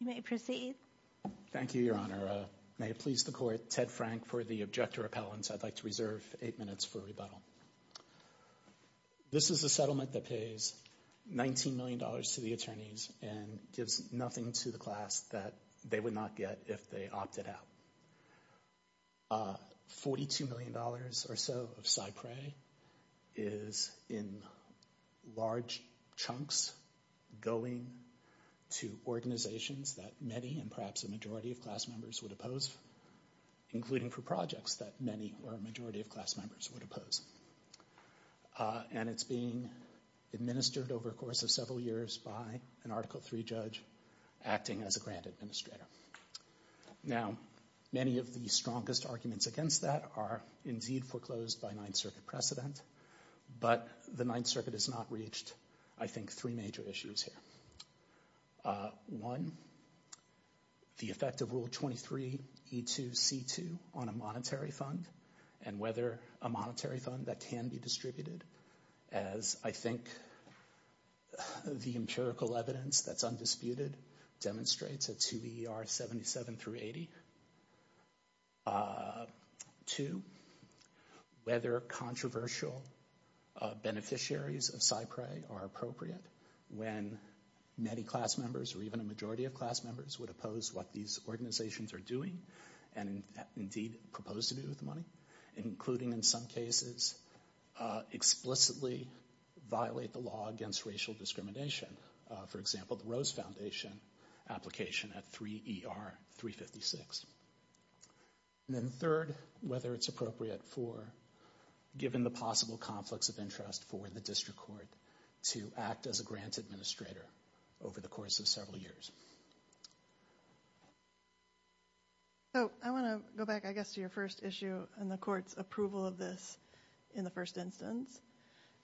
You may proceed. Thank you, Your Honor. May it please the Court, Ted Frank for the Object to Repellence, I'd like to reserve eight minutes for rebuttal. This is a settlement that pays $19 million to the attorneys and gives nothing to the class that they would not get if they opted out. $42 million or so of SIPRE is in large chunks going to organizations that many and perhaps a majority of class members would oppose, including for projects that many or a majority of class members would oppose. And it's being administered over the course of several years by an Article III judge acting as a grant administrator. Now, many of the strongest arguments against that are indeed foreclosed by Ninth Circuit precedent, but the Ninth Circuit has not reached, I think, three major issues here. One, the effect of Rule 23E2C2 on a monetary fund and whether a monetary fund that can be distributed as I think the empirical evidence that's undisputed demonstrates at 2ER77-80. Two, whether controversial beneficiaries of SIPRE are appropriate when many class members or even a majority of class members would oppose what these organizations are doing and indeed propose to do with the money, including in some cases explicitly violate the law against racial discrimination. For example, the Rose Foundation application at 3ER-356. And then third, whether it's appropriate for, given the possible conflicts of interest for the district court to act as a grant administrator over the course of several years. So, I want to go back, I guess, to your first issue and the court's approval of this in the first instance.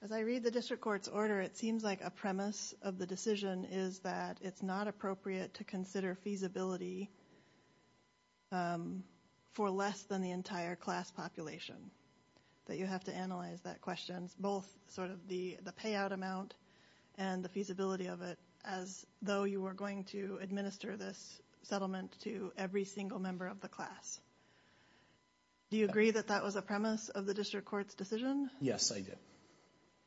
As I read the district court's order, it seems like a premise of the decision is that it's not appropriate to consider feasibility for less than the entire class population, that you have to analyze that question, both sort of the payout amount and the feasibility of it, as though you were going to administer this settlement to every single member of the class. Do you agree that that was a premise of the district court's decision? Yes, I do.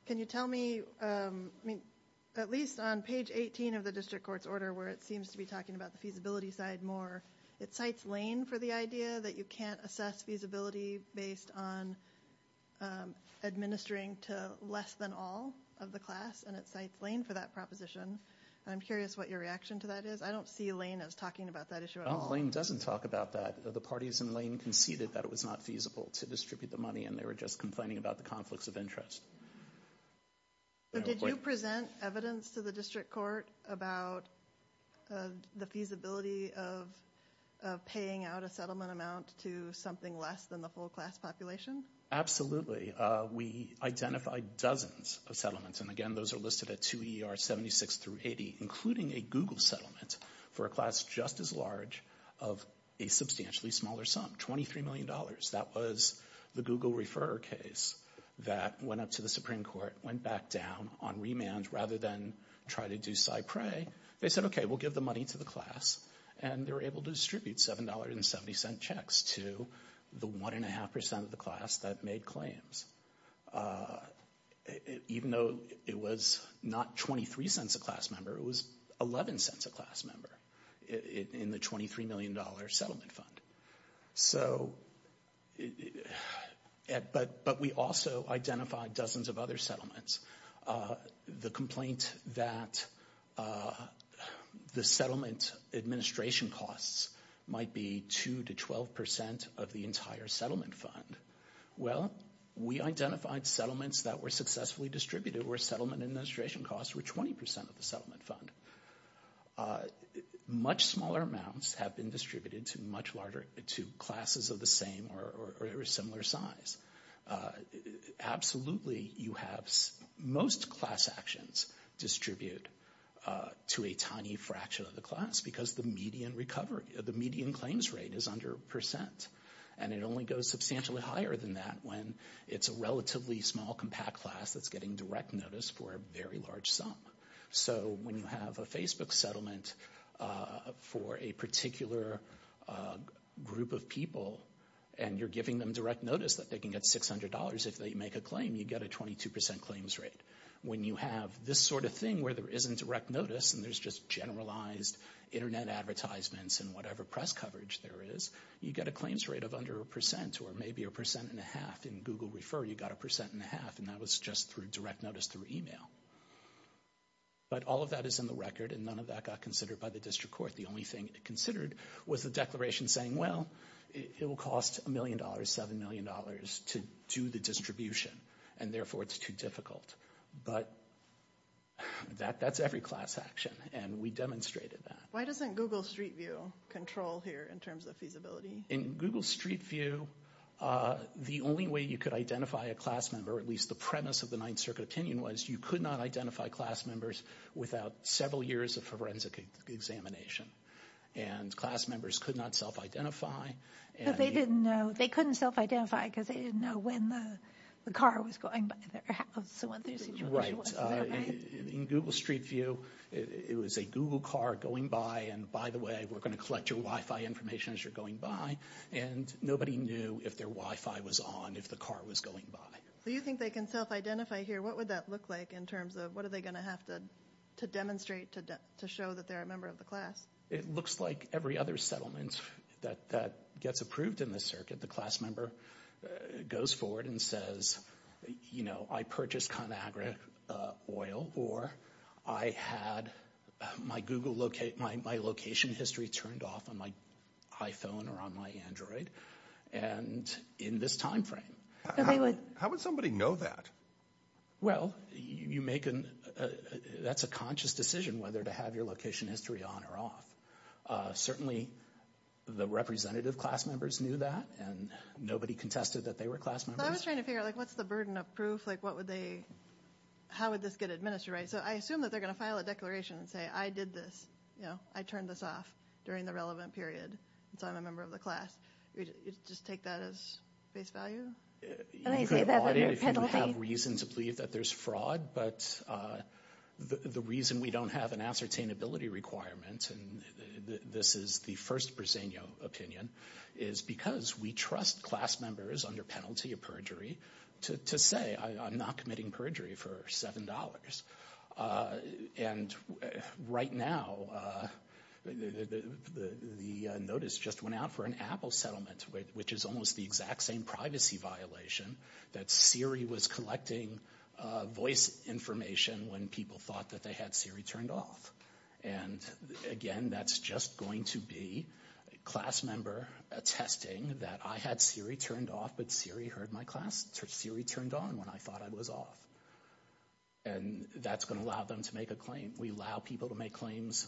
Can you tell me, at least on page 18 of the district court's order where it seems to be talking about the feasibility side more, it cites Lane for the idea that you can't assess feasibility based on administering to less than all of the class, and it cites Lane for that proposition. I'm curious what your reaction to that is. I don't see Lane as talking about that issue at all. Lane doesn't talk about that. The parties in Lane conceded that it was not feasible to distribute the money, and they were just complaining about the conflicts of interest. But did you present evidence to the district court about the feasibility of paying out a settlement amount to something less than the full class population? Absolutely. We identified dozens of settlements, and again, those are listed at 2 ER 76 through 80, including a Google settlement for a class just as large of a substantially smaller sum, $23 million. That was the Google refer case that went up to the Supreme Court, went back down on remand rather than try to do cypre. They said, okay, we'll give the money to the class, and they were able to distribute $7.70 checks to the 1.5% of the class that made claims. Even though it was not $0.23 a class member, it was $0.11 a class member in the $23 million settlement fund. But we also identified dozens of other settlements. The complaint that the settlement administration costs might be 2 to 12% of the entire settlement fund. Well, we identified settlements that were successfully distributed where settlement administration costs were 20% of the settlement fund. Much smaller amounts have been distributed to much larger, to classes of the same or similar size. Absolutely, you have most class actions distribute to a tiny fraction of the class because the median claims rate is under a percent. And it only goes substantially higher than that when it's a relatively small compact class that's getting direct notice for a very large sum. So when you have a Facebook settlement for a particular group of people, and you're giving them direct notice that they can get $600 if they make a claim, you get a 22% claims rate. When you have this sort of thing where there isn't direct notice and there's just generalized internet advertisements and whatever press coverage there is, you get a claims rate of under a percent or maybe a percent and a half. In Google Refer, you got a percent and a half, and that was just through direct notice through email. But all of that is in the record and none of that got considered by the district court. The only thing it considered was the declaration saying, well, it will cost $1 million, $7 million to do the distribution, and therefore it's too difficult. But that's every class action, and we demonstrated that. Why doesn't Google Street View control here in terms of feasibility? In Google Street View, the only way you could identify a class member, or at least the premise of the Ninth Circuit opinion was you could not identify class members without several years of forensic examination. And class members could not self-identify. But they didn't know, they couldn't self-identify because they didn't know when the car was going by their house or what their situation was, right? In Google Street View, it was a Google car going by, and by the way, we're going to collect your Wi-Fi information as you're going by, and nobody knew if their Wi-Fi was on, if the car was going by. So you think they can self-identify here? What would that look like in terms of, what are they going to have to demonstrate to show that they're a member of the class? It looks like every other settlement that gets approved in this circuit, the class member goes forward and says, you know, I purchased ConAgra oil, or I had my Google, my location history turned off on my iPhone or on my Android, and in this time frame. How would somebody know that? Well, you make a, that's a conscious decision whether to have your location history on or Certainly, the representative class members knew that, and nobody contested that they were class members. So I was trying to figure out, like, what's the burden of proof, like, what would they, how would this get administered, right? So I assume that they're going to file a declaration and say, I did this, you know, I turned this off during the relevant period, so I'm a member of the class. You just take that as face value? You could audit if you have reason to believe that there's fraud, but the reason we don't have an ascertainability requirement, and this is the first Briseño opinion, is because we trust class members under penalty of perjury to say, I'm not committing perjury for $7. And right now, the notice just went out for an Apple settlement, which is almost the exact same privacy violation that Siri was collecting voice information when people thought that they had Siri turned off. And again, that's just going to be a class member attesting that I had Siri turned off, but Siri heard my class, so Siri turned on when I thought I was off. And that's going to allow them to make a claim. We allow people to make claims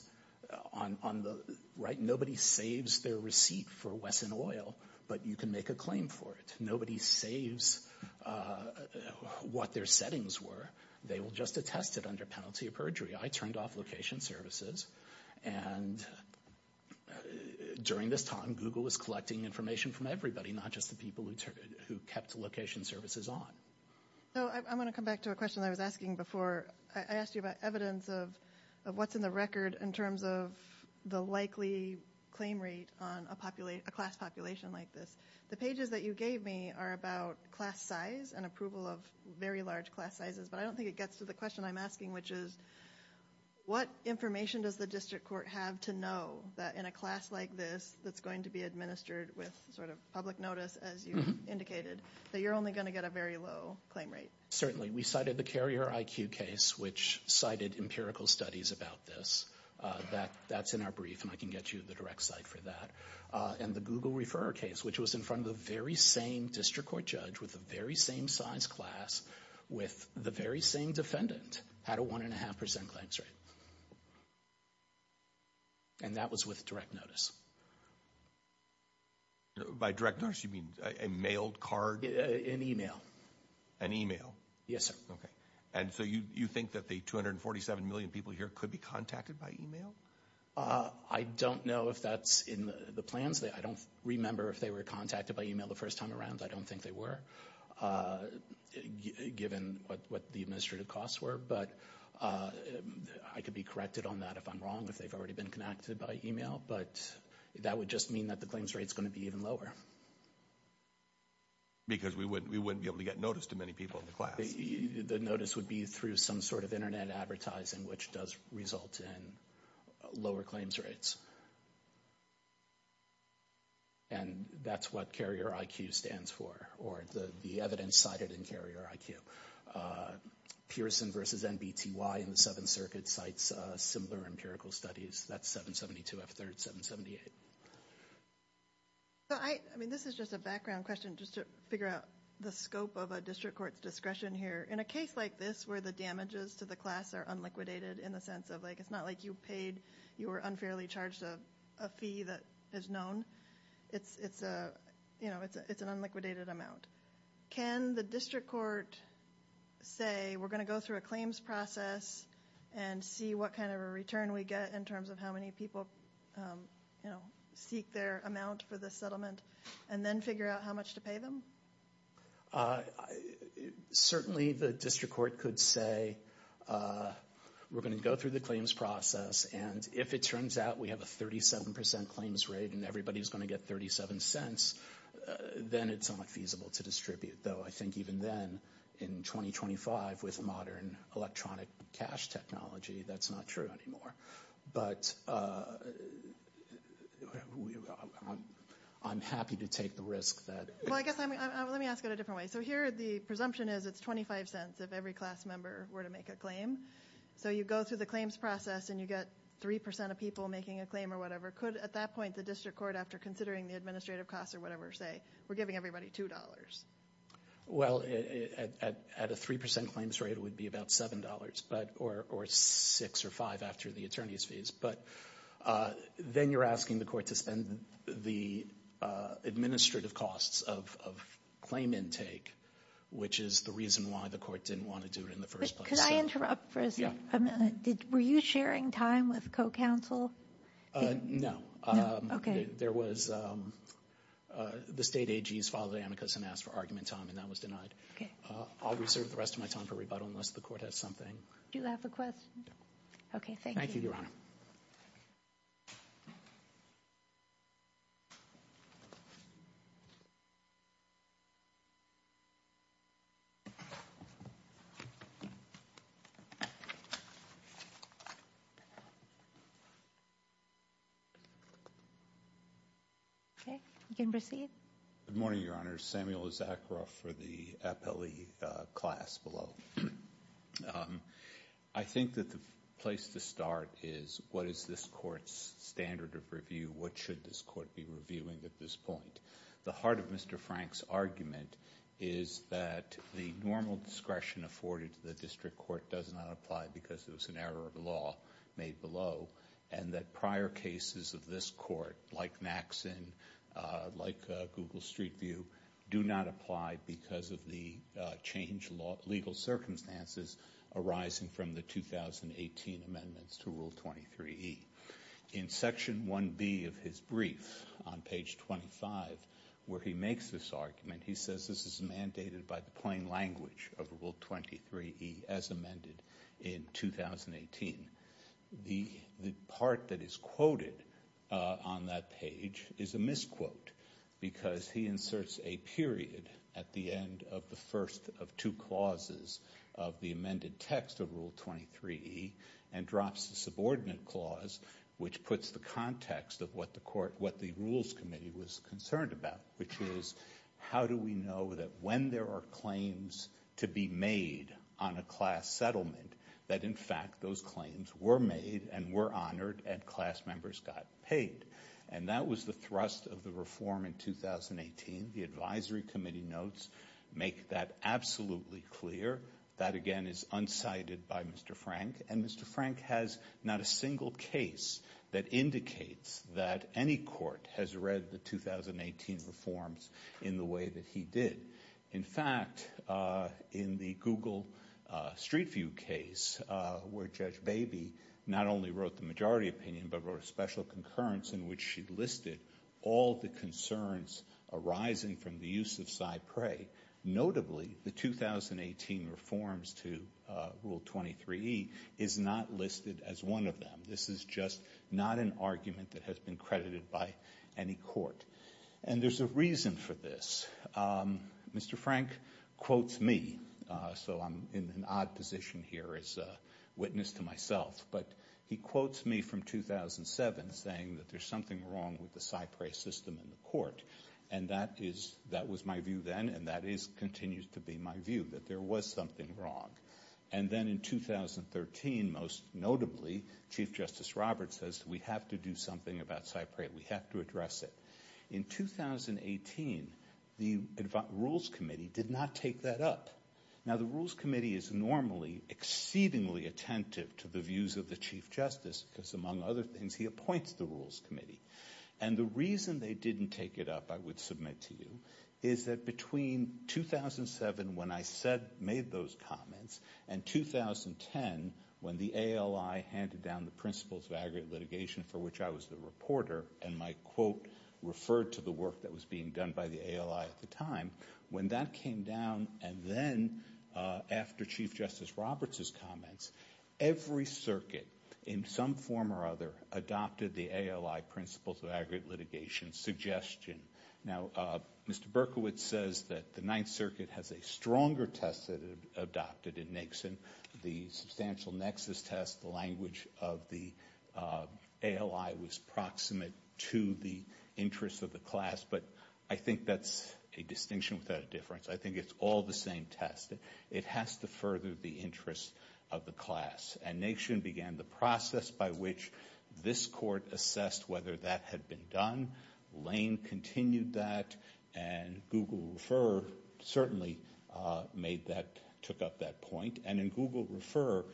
on the, right? Nobody saves their receipt for Wesson Oil, but you can make a claim for it. Nobody saves what their settings were. They will just attest it under penalty of perjury. I turned off location services, and during this time, Google was collecting information from everybody, not just the people who kept location services on. So I'm going to come back to a question I was asking before. I asked you about evidence of what's in the record in terms of the likely claim rate on a class population like this. The pages that you gave me are about class size and approval of very large class sizes, but I don't think it gets to the question I'm asking, which is, what information does the district court have to know that in a class like this that's going to be administered with sort of public notice, as you indicated, that you're only going to get a very low claim rate? Certainly. We cited the Carrier IQ case, which cited empirical studies about this. That's in our brief, and I can get you the direct site for that. And the Google Referrer case, which was in front of the very same district court judge with the very same size class, with the very same defendant, had a 1.5% claims rate. And that was with direct notice. By direct notice, you mean a mailed card? An email. An email? Yes, sir. Okay. And so you think that the 247 million people here could be contacted by email? I don't know if that's in the plans. I don't remember if they were contacted by email the first time around. I don't think they were, given what the administrative costs were. But I could be corrected on that if I'm wrong, if they've already been connected by email. But that would just mean that the claims rate's going to be even lower. Because we wouldn't be able to get notice to many people in the class. The notice would be through some sort of internet advertising, which does result in lower claims rates. And that's what Carrier IQ stands for, or the evidence cited in Carrier IQ. Pearson versus NBTY in the Seventh Circuit cites similar empirical studies. That's 772F3rd778. I mean, this is just a background question, just to figure out the scope of a district court's discretion here. In a case like this, where the damages to the class are unliquidated, in the sense of like, it's not like you paid, you were unfairly charged a fee that is known. It's an unliquidated amount. Can the district court say, we're going to go through a claims process and see what kind of a return we get in terms of how many people seek their amount for the settlement, and then figure out how much to pay them? Certainly, the district court could say, we're going to go through the claims process, and if it turns out we have a 37% claims rate and everybody's going to get 37 cents, then it's not feasible to distribute. Though, I think even then, in 2025, with modern electronic cash technology, that's not true anymore. But I'm happy to take the risk that- Well, I guess, let me ask it a different way. So here, the presumption is it's 25 cents if every class member were to make a claim. So you go through the claims process and you get 3% of people making a claim or whatever. Could, at that point, the district court, after considering the administrative costs or whatever, say, we're giving everybody $2? Well, at a 3% claims rate, it would be about $7 or $6 or $5 after the attorney's fees. But then you're asking the court to spend the administrative costs of claim intake, which is the reason why the court didn't want to do it in the first place. Could I interrupt for a second? Were you sharing time with co-counsel? No. No? There was- the state AGs filed amicus and asked for argument time, and that was denied. I'll reserve the rest of my time for rebuttal, unless the court has something- Do you have a question? No. Okay, thank you. Thank you, Your Honor. Okay, you can proceed. Good morning, Your Honor. Samuel Issacharoff for the appellee class below. I think that the place to start is, what is this court's standard of review? What should this court be reviewing at this point? The heart of Mr. Frank's argument is that the normal discretion afforded to the district court does not apply because there was an error of law made below, and that prior cases of this court, like Naxin, like Google Street View, do not apply because of the changed legal circumstances arising from the 2018 amendments to Rule 23E. In Section 1B of his brief, on page 25, where he makes this argument, he says this is mandated by the plain language of Rule 23E, as amended in 2018. The part that is quoted on that page is a misquote, because he inserts a period at the end of the first of two clauses of the amended text of Rule 23E, and drops the subordinate clause, which puts the context of what the rules committee was concerned about, which is, how do we know that when there are claims to be made on a class settlement, that in fact, those claims were made, and were honored, and class members got paid? And that was the thrust of the reform in 2018. The advisory committee notes make that absolutely clear. That again is unsighted by Mr. Frank, and Mr. Frank has not a single case that indicates that any court has read the 2018 reforms in the way that he did. In fact, in the Google Street View case, where Judge Baby not only wrote the majority opinion, but wrote a special concurrence in which she listed all the concerns arising from the use of cypre, notably, the 2018 reforms to Rule 23E, is not listed as one of them. This is just not an argument that has been credited by any court. And there's a reason for this. Mr. Frank quotes me, so I'm in an odd position here as a witness to myself, but he quotes me from 2007 saying that there's something wrong with the cypre system in the court. And that was my view then, and that continues to be my view, that there was something wrong. And then in 2013, most notably, Chief Justice Roberts says, we have to do something about cypre. We have to address it. In 2018, the Rules Committee did not take that up. Now, the Rules Committee is normally exceedingly attentive to the views of the Chief Justice because, among other things, he appoints the Rules Committee. And the reason they didn't take it up, I would submit to you, is that between 2007, when I said, made those comments, and 2010, when the ALI handed down the principles of aggregate litigation, for which I was the reporter, and my quote referred to the work that was being done by the ALI at the time, when that came down, and then after Chief Justice Roberts' comments, every circuit, in some form or other, adopted the ALI principles of aggregate litigation suggestion. Now, Mr. Berkowitz says that the Ninth Circuit has a stronger test that it adopted in Nixon, the substantial nexus test, the language of the ALI was proximate to the interests of the class. But I think that's a distinction without a difference. I think it's all the same test. It has to further the interests of the class. And Nixon began the process by which this Court assessed whether that had been done. Lane continued that. And Google Refer certainly made that, took up that point. And in Google Refer,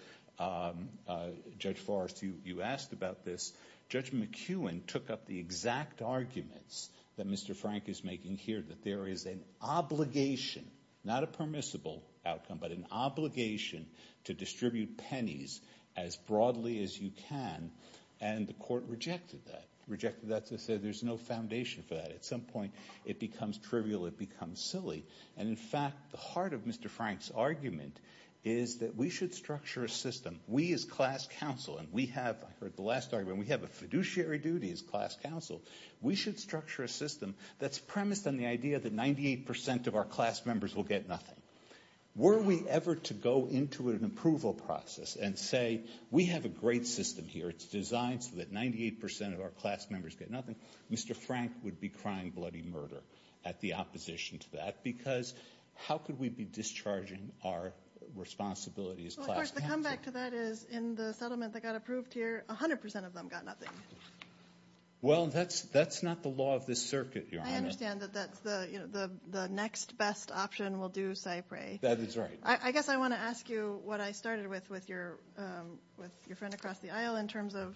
Judge Forrest, you asked about this. Judge McEwen took up the exact arguments that Mr. Frank is making here, that there is an obligation, not a permissible outcome, but an obligation to distribute pennies as broadly as you can. And the Court rejected that, rejected that to say there's no foundation for that. At some point, it becomes trivial, it becomes silly. And in fact, the heart of Mr. Frank's argument is that we should structure a system, we as class counsel, and we have, I heard the last argument, we have a fiduciary duty as class counsel, we should structure a system that's premised on the idea that 98% of our class members will get nothing. Were we ever to go into an approval process and say, we have a great system here, it's designed so that 98% of our class members get nothing, Mr. Frank would be crying bloody murder at the opposition to that, because how could we be discharging our responsibility as class counsel? Of course, the comeback to that is, in the settlement that got approved here, 100% of them got nothing. Well, that's not the law of this circuit, Your Honor. I understand that that's the next best option, we'll do Cypre. That is right. I guess I want to ask you what I started with, with your friend across the aisle, in terms of,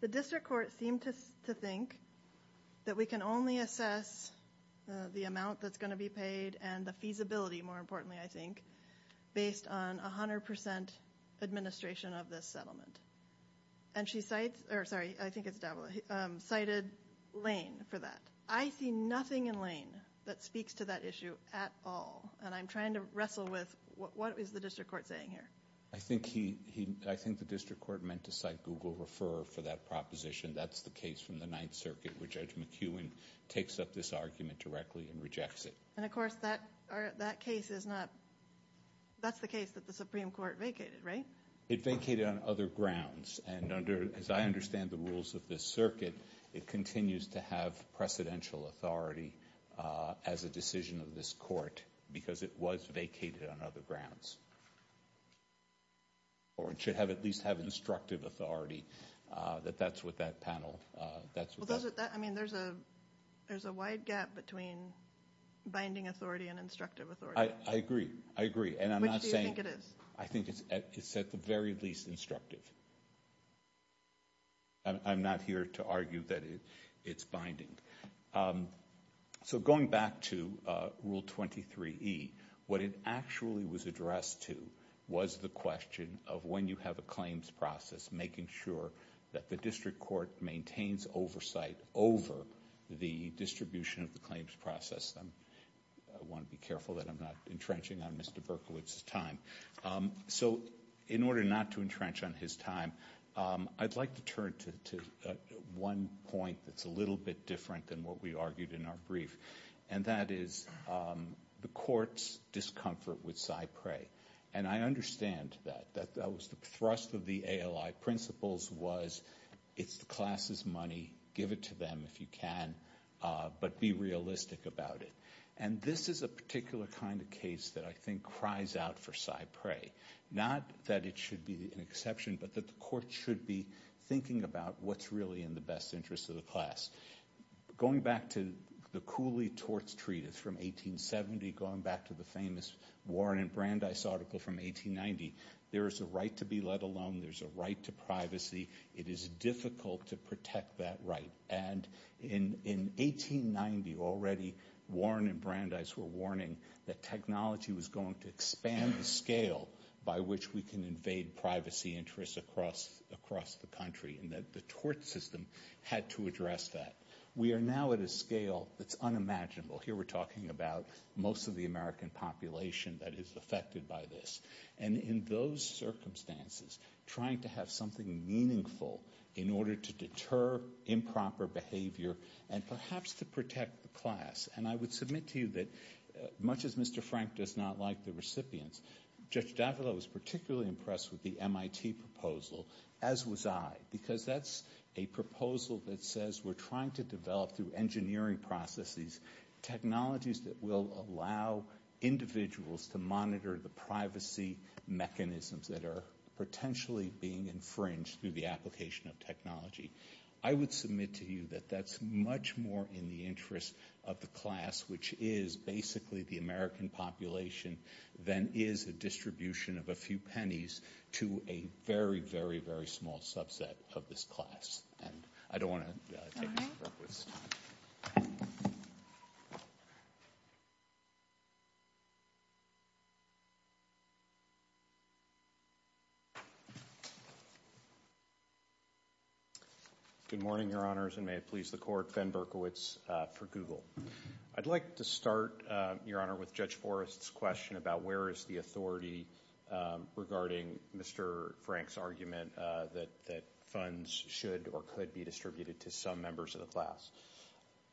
the district court seemed to think that we can only assess the amount that's going to be paid and the feasibility, more importantly, I think, based on 100% administration of this settlement. And she cites, or sorry, I think it's Davila, cited Lane for that. I see nothing in Lane that speaks to that issue at all, and I'm trying to wrestle with what is the district court saying here? I think he, I think the district court meant to cite Google Refer for that proposition. That's the case from the Ninth Circuit, where Judge McEwen takes up this argument directly and rejects it. And of course, that case is not, that's the case that the Supreme Court vacated, right? It vacated on other grounds, and under, as I understand the rules of this circuit, it continues to have precedential authority as a decision of this court, because it was vacated on other grounds. Or it should have, at least have instructive authority, that that's what that panel, that's what that. I mean, there's a, there's a wide gap between binding authority and instructive authority. I agree. I agree. And I'm not saying. Which do you think it is? I think it's at the very least instructive. I'm not here to argue that it's binding. So, going back to Rule 23E, what it actually was addressed to was the question of when you have a claims process, making sure that the district court maintains oversight over the distribution of the claims process. I want to be careful that I'm not entrenching on Mr. Berkowitz's time. So, in order not to entrench on his time, I'd like to turn to one point that's a little bit different than what we argued in our brief. And that is the court's discomfort with PSI PREA. And I understand that, that that was the thrust of the ALI principles was it's the class's money, give it to them if you can, but be realistic about it. And this is a particular kind of case that I think cries out for PSI PREA. Not that it should be an exception, but that the court should be thinking about what's really in the best interest of the class. Going back to the Cooley torts treatise from 1870, going back to the famous Warren and Brandeis article from 1890, there is a right to be let alone, there's a right to privacy, it is difficult to protect that right. And in 1890, already, Warren and Brandeis were warning that technology was going to expand the scale by which we can invade privacy interests across the country and that the system had to address that. We are now at a scale that's unimaginable. Here we're talking about most of the American population that is affected by this. And in those circumstances, trying to have something meaningful in order to deter improper behavior and perhaps to protect the class. And I would submit to you that much as Mr. Frank does not like the recipients, Judge I was particularly impressed with the MIT proposal, as was I. Because that's a proposal that says we're trying to develop through engineering processes, technologies that will allow individuals to monitor the privacy mechanisms that are potentially being infringed through the application of technology. I would submit to you that that's much more in the interest of the class, which is basically the American population, than is a distribution of a few pennies to a very, very, very small subset of this class. And I don't want to take Mr. Berkowitz's time. Good morning, Your Honors, and may it please the Court, Ben Berkowitz for Google. I'd like to start, Your Honor, with Judge Forrest's question about where is the authority regarding Mr. Frank's argument that funds should or could be distributed to some members of the class.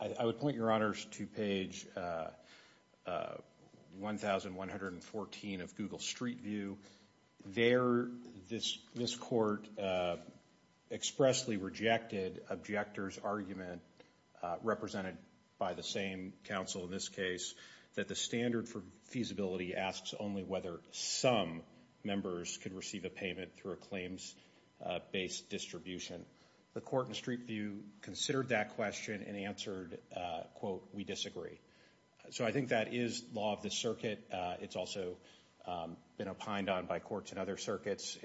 I would point, Your Honors, to page 1114 of Google Street View. There, this Court expressly rejected objectors' argument, represented by the same counsel in this case, that the standard for feasibility asks only whether some members could receive a payment through a claims-based distribution. The Court in Street View considered that question and answered, quote, we disagree. So I think that is law of the circuit. It's also been opined on by courts in other circuits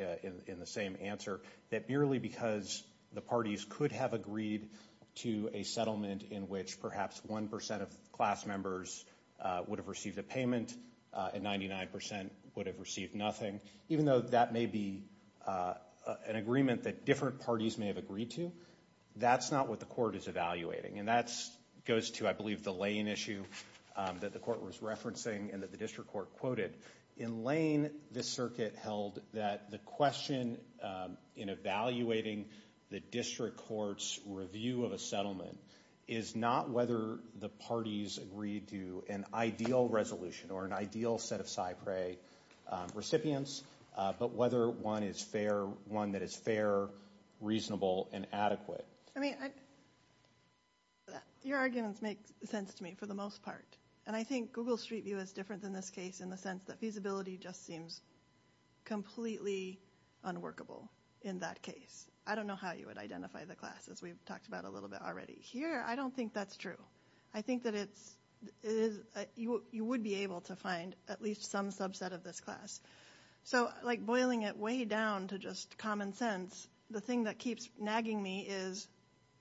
in the same answer, that merely because the parties could have agreed to a settlement in which perhaps 1% of class members would have received a payment and 99% would have received nothing, even though that may be an agreement that different parties may have agreed to, that's not what the Court is evaluating. And that goes to, I believe, the Lane issue that the Court was referencing and that the District Court quoted. In Lane, the circuit held that the question in evaluating the District Court's review of a settlement is not whether the parties agreed to an ideal resolution or an ideal set of SIPRE recipients, but whether one is fair, one that is fair, reasonable, and adequate. I mean, your arguments make sense to me for the most part. And I think Google Street View is different than this case in the sense that feasibility just seems completely unworkable in that case. I don't know how you would identify the class, as we've talked about a little bit already. Here, I don't think that's true. I think that you would be able to find at least some subset of this class. So, boiling it way down to just common sense, the thing that keeps nagging me is,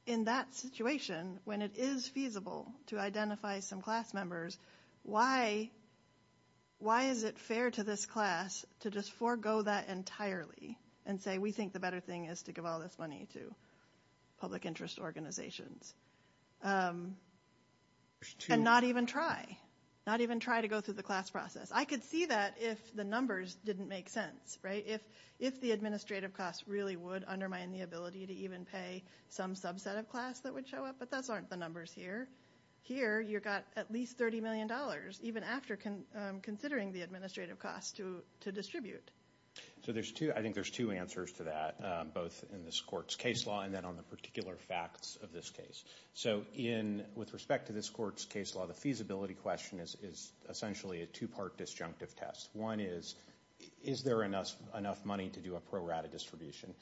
in that situation, when it is feasible to identify some class members, why is it fair to this class to just forego that entirely and say, we think the better thing is to give all this money to public interest organizations, and not even try, not even try to go through the class process. I could see that if the numbers didn't make sense, right? If the administrative costs really would undermine the ability to even pay some subset of class that would show up, but those aren't the numbers here. Here, you've got at least $30 million, even after considering the administrative costs to distribute. So, I think there's two answers to that, both in this court's case law and then on the particular facts of this case. So, with respect to this court's case law, the feasibility question is essentially a two-part disjunctive test. One is, is there enough money to do a pro rata distribution?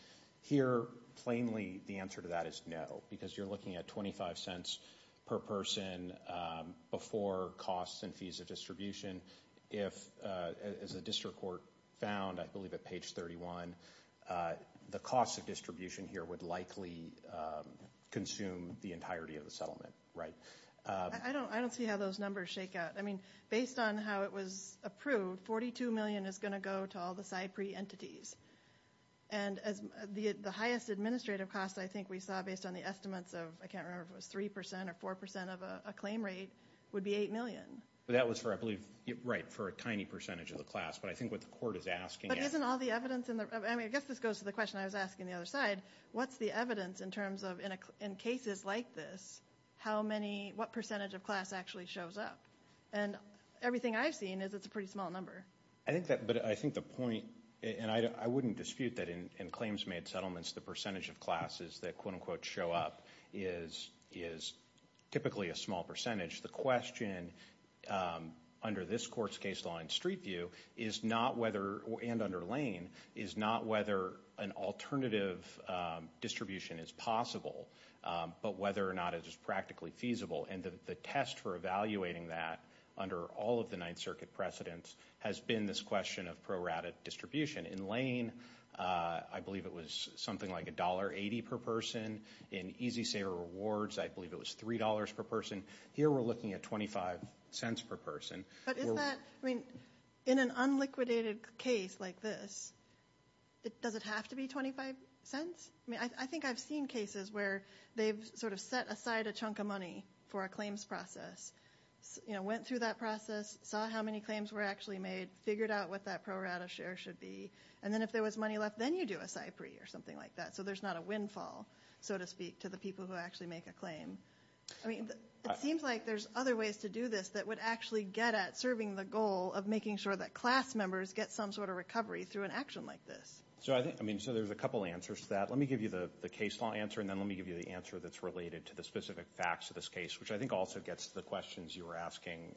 Here, plainly, the answer to that is no, because you're looking at $0.25 per person before costs and fees of distribution. If, as the district court found, I believe at page 31, the cost of distribution here would likely consume the entirety of the settlement, right? I don't see how those numbers shake out. I mean, based on how it was approved, $42 million is going to go to all the PSI PRE entities. And, as the highest administrative costs, I think we saw, based on the estimates of, I can't remember if it was 3% or 4% of a claim rate, would be $8 million. But that was for, I believe, right, for a tiny percentage of the class. But I think what the court is asking is... But isn't all the evidence in the... I mean, I guess this goes to the question I was asking the other side. What's the evidence in terms of, in cases like this, how many, what percentage of class actually shows up? And everything I've seen is it's a pretty small number. I think that... But I think the point... And I wouldn't dispute that in claims-made settlements, the percentage of classes that quote-unquote show up is typically a small percentage. The question, under this court's case law and street view, is not whether... And under Lane, is not whether an alternative distribution is possible, but whether or not it is practically feasible. And the test for evaluating that under all of the Ninth Circuit precedents has been this question of pro-rata distribution. In Lane, I believe it was something like $1.80 per person. In Easy Sayer Rewards, I believe it was $3 per person. Here, we're looking at $0.25 per person. But isn't that... I mean, in an unliquidated case like this, does it have to be $0.25? I mean, I think I've seen cases where they've sort of set aside a chunk of money for a claims process, went through that process, saw how many claims were actually made, figured out what that pro-rata share should be. And then if there was money left, then you do a SIPRI or something like that. So there's not a windfall, so to speak, to the people who actually make a claim. I mean, it seems like there's other ways to do this that would actually get at serving the goal of making sure that class members get some sort of recovery through an action like this. So I think... I mean, so there's a couple answers to that. Let me give you the case law answer, and then let me give you the answer that's related to the specific facts of this case, which I think also gets to the questions you were asking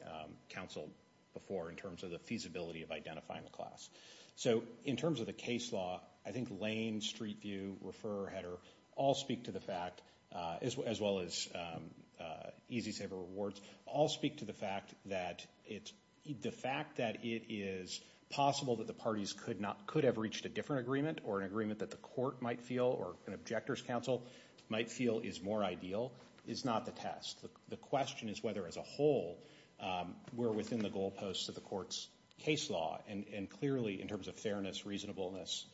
counsel before in terms of the feasibility of identifying the class. So in terms of the case law, I think Lane, Street View, Refer Header all speak to the fact, as well as Easy Sayer Rewards, all speak to the fact that it's... The fact that it is possible that the parties could have reached a different agreement or an agreement that the court might feel or an objector's counsel might feel is more ideal is not the test. The question is whether, as a whole, we're within the goalposts of the court's case law. And clearly, in terms of fairness, reasonableness,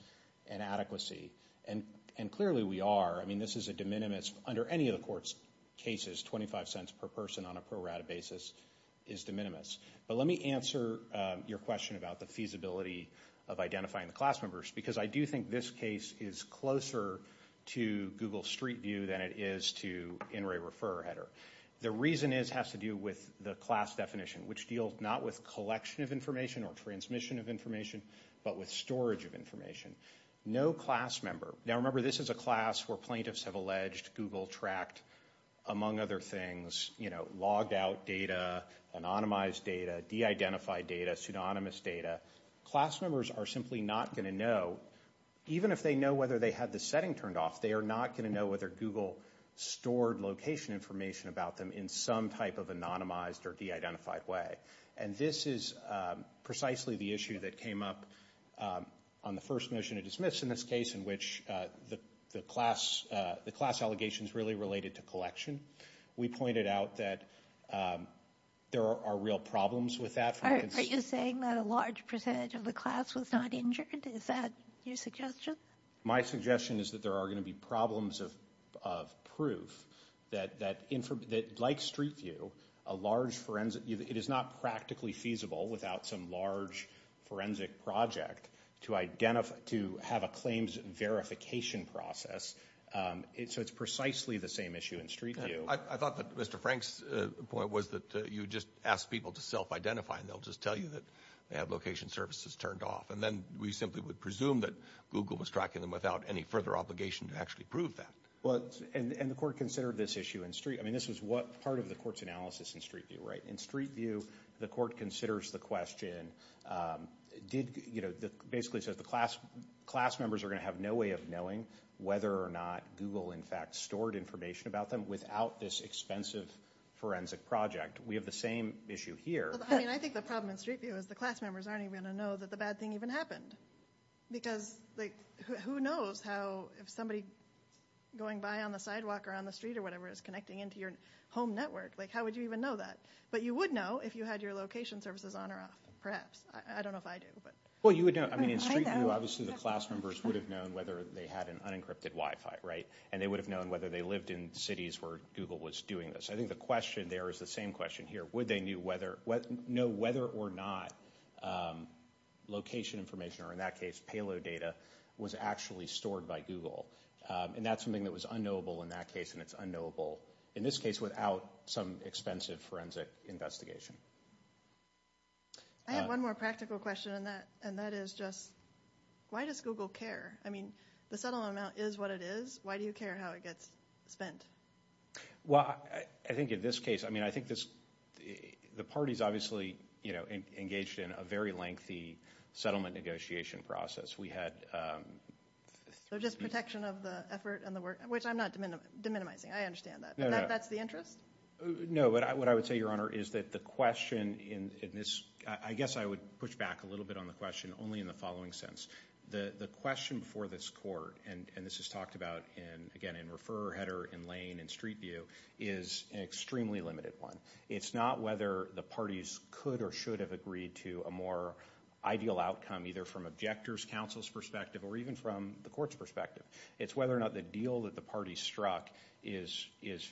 and adequacy, and clearly we are. I mean, this is a de minimis. Under any of the court's cases, 25 cents per person on a pro rata basis is de minimis. But let me answer your question about the feasibility of identifying the class members, because I do think this case is closer to Google Street View than it is to In Re Refer Header. The reason has to do with the class definition, which deals not with collection of information or transmission of information, but with storage of information. No class member... Now remember, this is a class where plaintiffs have alleged Google tracked, among other things, logged out data, anonymized data, de-identified data, pseudonymous data. Class members are simply not going to know, even if they know whether they had the setting turned off, they are not going to know whether Google stored location information about them in some type of anonymized or de-identified way. And this is precisely the issue that came up on the first mission to dismiss in this case, in which the class allegations really related to collection. We pointed out that there are real problems with that. Are you saying that a large percentage of the class was not injured? Is that your suggestion? My suggestion is that there are going to be problems of proof that, like Street View, it is not practically feasible without some large forensic project to have a claims verification process. So it's precisely the same issue in Street View. I thought that Mr. Frank's point was that you just ask people to self-identify and they'll just tell you that they have location services turned off. And then we simply would presume that Google was tracking them without any further obligation to actually prove that. And the court considered this issue in Street. I mean, this was part of the court's analysis in Street View, right? In Street View, the court considers the question, basically says the class members are going to have no way of knowing whether or not Google, in fact, stored information about them without this expensive forensic project. We have the same issue here. I mean, I think the problem in Street View is the class members aren't even going to know that the bad thing even happened. Because who knows how if somebody going by on the sidewalk or on the street or whatever is connecting into your home network? Like, how would you even know that? But you would know if you had your location services on or off, perhaps. I don't know if I do. Well, you would know. I mean, in Street View, obviously the class members would have known whether they had an unencrypted Wi-Fi, right? And they would have known whether they lived in cities where Google was doing this. I think the question there is the same question here. Would they know whether or not location information, or in that case payload data, was actually stored by Google? And that's something that was unknowable in that case, and it's unknowable in this case without some expensive forensic investigation. I have one more practical question, and that is just why does Google care? I mean, the settlement amount is what it is. Why do you care how it gets spent? Well, I think in this case, I mean, I think the parties obviously engaged in a very lengthy settlement negotiation process. So just protection of the effort and the work, which I'm not de-minimizing. I understand that, but that's the interest? No, but what I would say, Your Honor, is that the question in this, I guess I would push back a little bit on the question only in the following sense. The question before this court, and this is talked about, again, in Refer Header, in Lane, in Street View, is an extremely limited one. It's not whether the parties could or should have agreed to a more ideal outcome, either from objectors' counsel's perspective or even from the court's perspective. It's whether or not the deal that the parties struck is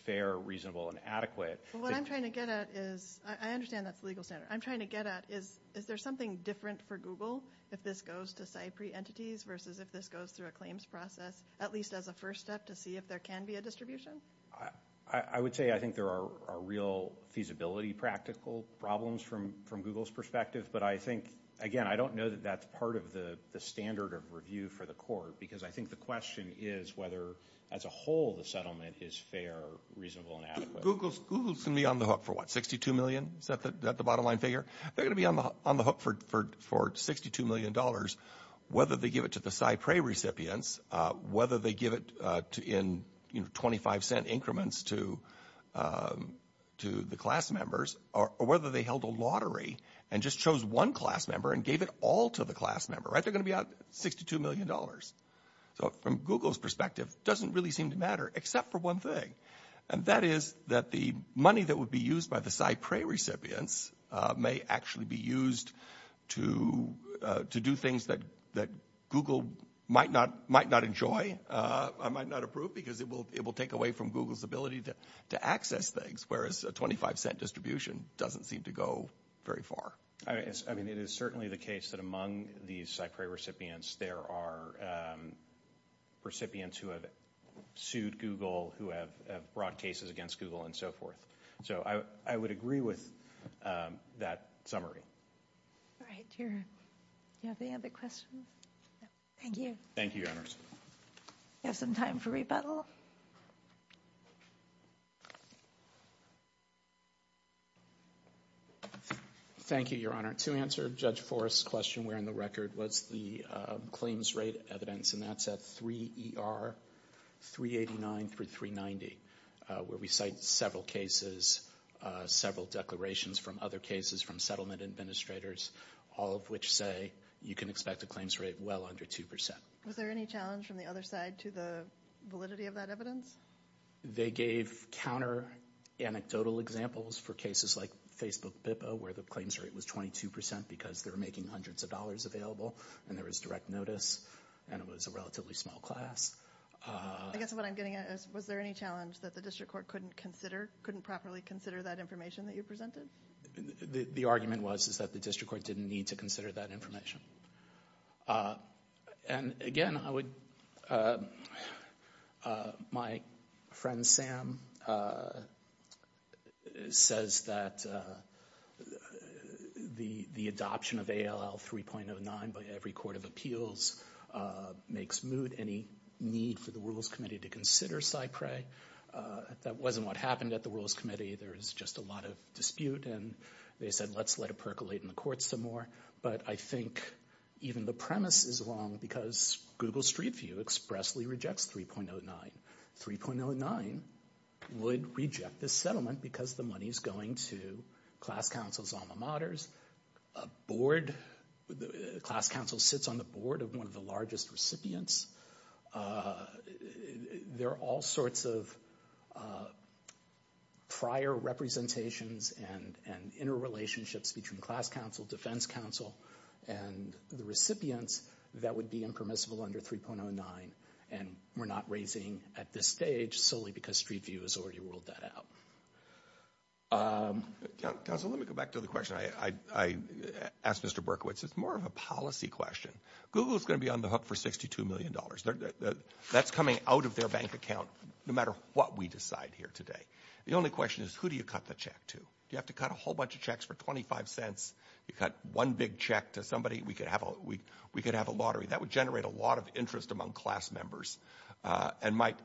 fair, reasonable, and adequate. What I'm trying to get at is I understand that's the legal standard. I'm trying to get at is there something different for Google if this goes to site pre-entities versus if this goes through a claims process, at least as a first step to see if there can be a distribution? I would say I think there are real feasibility practical problems from Google's perspective, but I think, again, I don't know that that's part of the standard of review for the court because I think the question is whether as a whole the settlement is fair, reasonable, and adequate. Google's going to be on the hook for what, $62 million? Is that the bottom line figure? They're going to be on the hook for $62 million, whether they give it to the site pre-recipients, whether they give it in 25-cent increments to the class members, or whether they held a lottery and just chose one class member and gave it all to the class member. They're going to be out $62 million. So from Google's perspective, it doesn't really seem to matter except for one thing, and that is that the money that would be used by the site pre-recipients may actually be used to do things that Google might not enjoy or might not approve because it will take away from Google's ability to access things, whereas a 25-cent distribution doesn't seem to go very far. I mean, it is certainly the case that among these site pre-recipients, there are recipients who have sued Google, who have brought cases against Google, and so forth. So I would agree with that summary. All right. Do you have any other questions? Thank you. Thank you, Your Honors. We have some time for rebuttal. Thank you, Your Honor. To answer Judge Forrest's question, where in the record was the claims rate evidence, and that's at 3ER 389 through 390, where we cite several cases, several declarations from other cases from settlement administrators, all of which say you can expect a claims rate well under 2%. Was there any challenge from the other side to the validity of that evidence? They gave counter-anecdotal examples for cases like Facebook BIPA, where the claims rate was 22% because they were making hundreds of dollars available, and there was direct notice, and it was a relatively small class. I guess what I'm getting at is, was there any challenge that the district court couldn't properly consider that information that you presented? The argument was that the district court didn't need to consider that information. And, again, my friend Sam says that the adoption of ALL 3.09 by every court of appeals makes moot any need for the Rules Committee to consider SIPRE. That wasn't what happened at the Rules Committee. There was just a lot of dispute, and they said, let's let it percolate in the court some more. But I think even the premise is wrong because Google Street View expressly rejects 3.09. 3.09 would reject this settlement because the money is going to class council's alma mater's board. The class council sits on the board of one of the largest recipients. There are all sorts of prior representations and interrelationships between class council, defense council, and the recipients that would be impermissible under 3.09, and we're not raising at this stage solely because Street View has already ruled that out. Counsel, let me go back to the question I asked Mr. Berkowitz. It's more of a policy question. Google is going to be on the hook for $62 million. That's coming out of their bank account no matter what we decide here today. The only question is, who do you cut the check to? Do you have to cut a whole bunch of checks for 25 cents? You cut one big check to somebody, we could have a lottery. That would generate a lot of interest among class members and might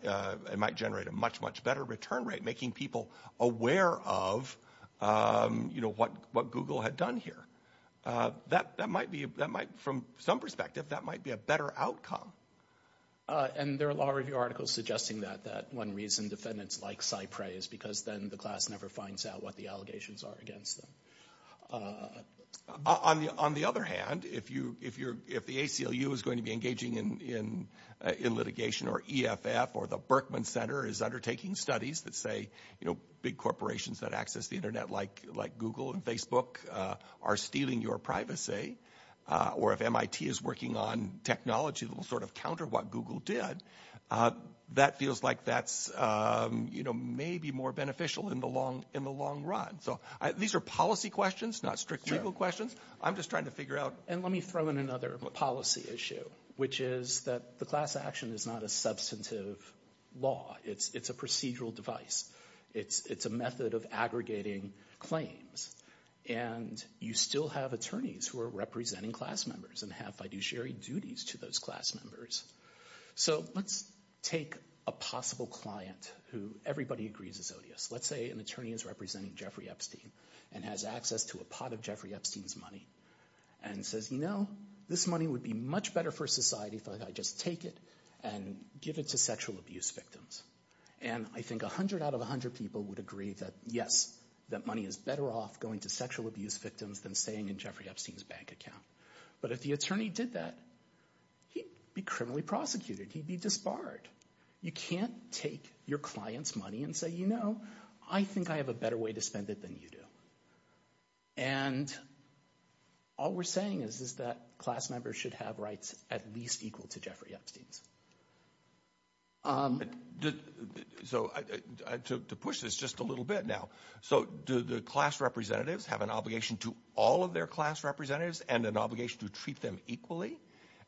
generate a much, much better return rate, making people aware of what Google had done here. That might be, from some perspective, that might be a better outcome. And there are law review articles suggesting that one reason defendants like Cypress is because then the class never finds out what the allegations are against them. On the other hand, if the ACLU is going to be engaging in litigation or EFF or the Berkman Center is undertaking studies that say, you know, big corporations that access the Internet like Google and Facebook are stealing your privacy, or if MIT is working on technology that will sort of counter what Google did, that feels like that's, you know, maybe more beneficial in the long run. So these are policy questions, not strict legal questions. I'm just trying to figure out— And let me throw in another policy issue, which is that the class action is not a substantive law. It's a procedural device. It's a method of aggregating claims. And you still have attorneys who are representing class members and have fiduciary duties to those class members. So let's take a possible client who everybody agrees is odious. Let's say an attorney is representing Jeffrey Epstein and has access to a pot of Jeffrey Epstein's money and says, you know, this money would be much better for society if I just take it and give it to sexual abuse victims. And I think 100 out of 100 people would agree that, yes, that money is better off going to sexual abuse victims than staying in Jeffrey Epstein's bank account. But if the attorney did that, he'd be criminally prosecuted. He'd be disbarred. You can't take your client's money and say, you know, I think I have a better way to spend it than you do. And all we're saying is that class members should have rights at least equal to Jeffrey Epstein's. So to push this just a little bit now, so do the class representatives have an obligation to all of their class representatives and an obligation to treat them equally?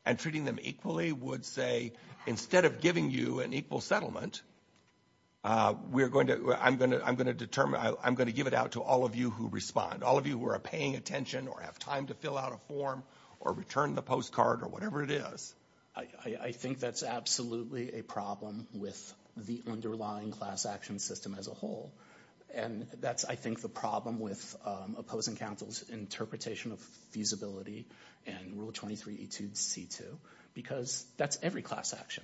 And treating them equally would say, instead of giving you an equal settlement, we're going to I'm going to I'm going to determine I'm going to give it out to all of you who respond. All of you who are paying attention or have time to fill out a form or return the postcard or whatever it is. I think that's absolutely a problem with the underlying class action system as a whole. And that's, I think, the problem with opposing counsel's interpretation of feasibility and Rule 23, because that's every class action.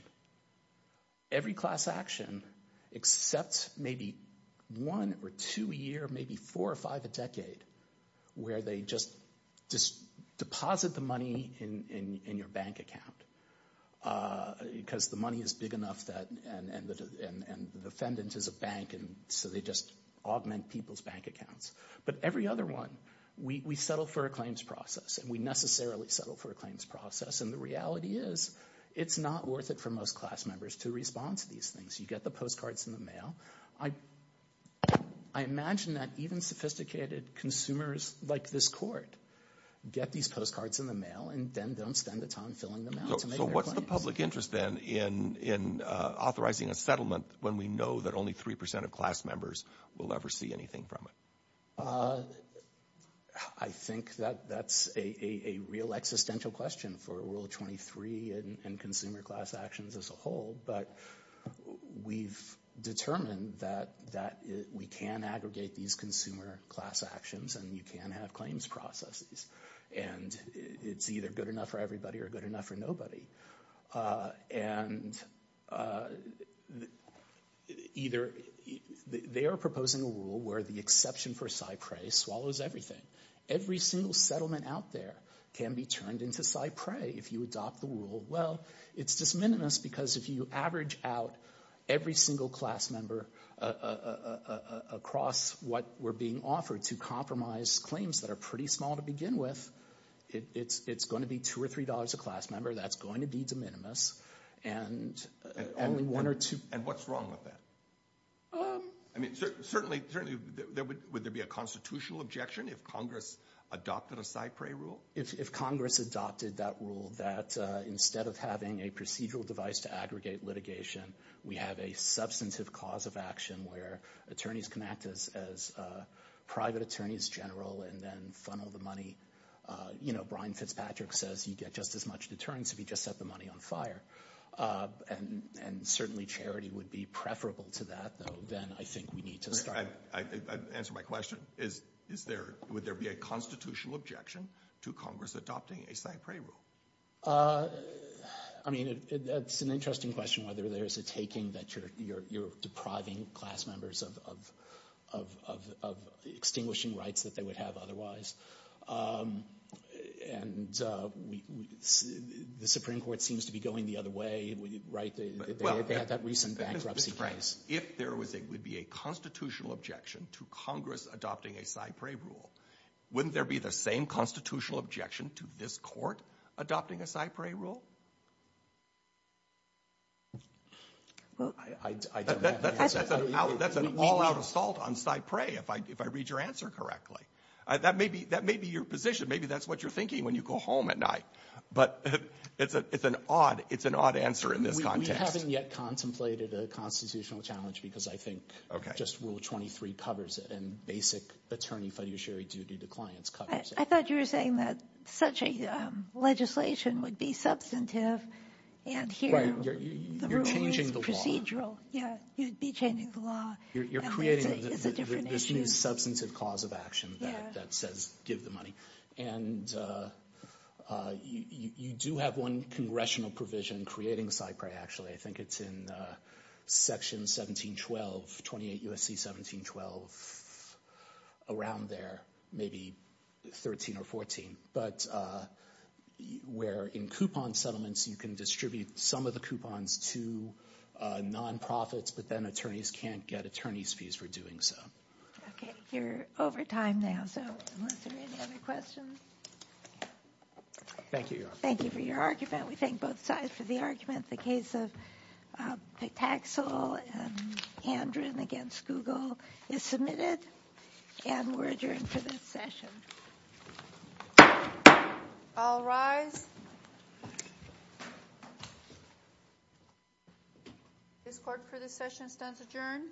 Every class action except maybe one or two a year, maybe four or five a decade, where they just deposit the money in your bank account because the money is big enough that and the defendant is a bank and so they just augment people's bank accounts. But every other one, we settle for a claims process and we necessarily settle for a claims process. And the reality is, it's not worth it for most class members to respond to these things. You get the postcards in the mail. I imagine that even sophisticated consumers like this court get these postcards in the mail and then don't spend the time filling them out. So what's the public interest then in authorizing a settlement when we know that only 3% of class members will ever see anything from it? I think that that's a real existential question for Rule 23 and consumer class actions as a whole. But we've determined that we can aggregate these consumer class actions and you can have claims processes. And it's either good enough for everybody or good enough for nobody. And either they are proposing a rule where the exception for CyPray swallows everything. Every single settlement out there can be turned into CyPray if you adopt the rule. Well, it's just minimalist because if you average out every single class member across what we're being offered to compromise claims that are pretty small to begin with, it's going to be $2 or $3 a class member. That's going to be de minimis. And what's wrong with that? Certainly, would there be a constitutional objection if Congress adopted a CyPray rule? If Congress adopted that rule that instead of having a procedural device to aggregate litigation, we have a substantive cause of action where attorneys can act as private attorneys general and then funnel the money. You know, Brian Fitzpatrick says you get just as much deterrence if you just set the money on fire. And certainly charity would be preferable to that, though, than I think we need to start. To answer my question, would there be a constitutional objection to Congress adopting a CyPray rule? I mean, it's an interesting question whether there's a taking that you're depriving class members of extinguishing rights that they would have otherwise. And the Supreme Court seems to be going the other way, right? They had that recent bankruptcy case. If there would be a constitutional objection to Congress adopting a CyPray rule, wouldn't there be the same constitutional objection to this court adopting a CyPray rule? That's an all-out assault on CyPray, if I read your answer correctly. That may be your position. Maybe that's what you're thinking when you go home at night. But it's an odd answer in this context. We haven't yet contemplated a constitutional challenge because I think just Rule 23 covers it, and basic attorney fiduciary duty to clients covers it. I thought you were saying that such a legislation would be substantive and here the rule is procedural. You're changing the law. Yeah, you'd be changing the law. You're creating this new substantive cause of action that says give the money. And you do have one congressional provision creating CyPray, actually. I think it's in Section 1712, 28 U.S.C. 1712, around there, maybe 13 or 14, but where in coupon settlements you can distribute some of the coupons to nonprofits, but then attorneys can't get attorneys' fees for doing so. Okay, you're over time now, so unless there are any other questions. Thank you, Your Honor. Thank you for your argument. We thank both sides for the argument. The case of Pitaxel and Andren against Gugol is submitted and we're adjourned for this session. All rise. This court for this session stands adjourned.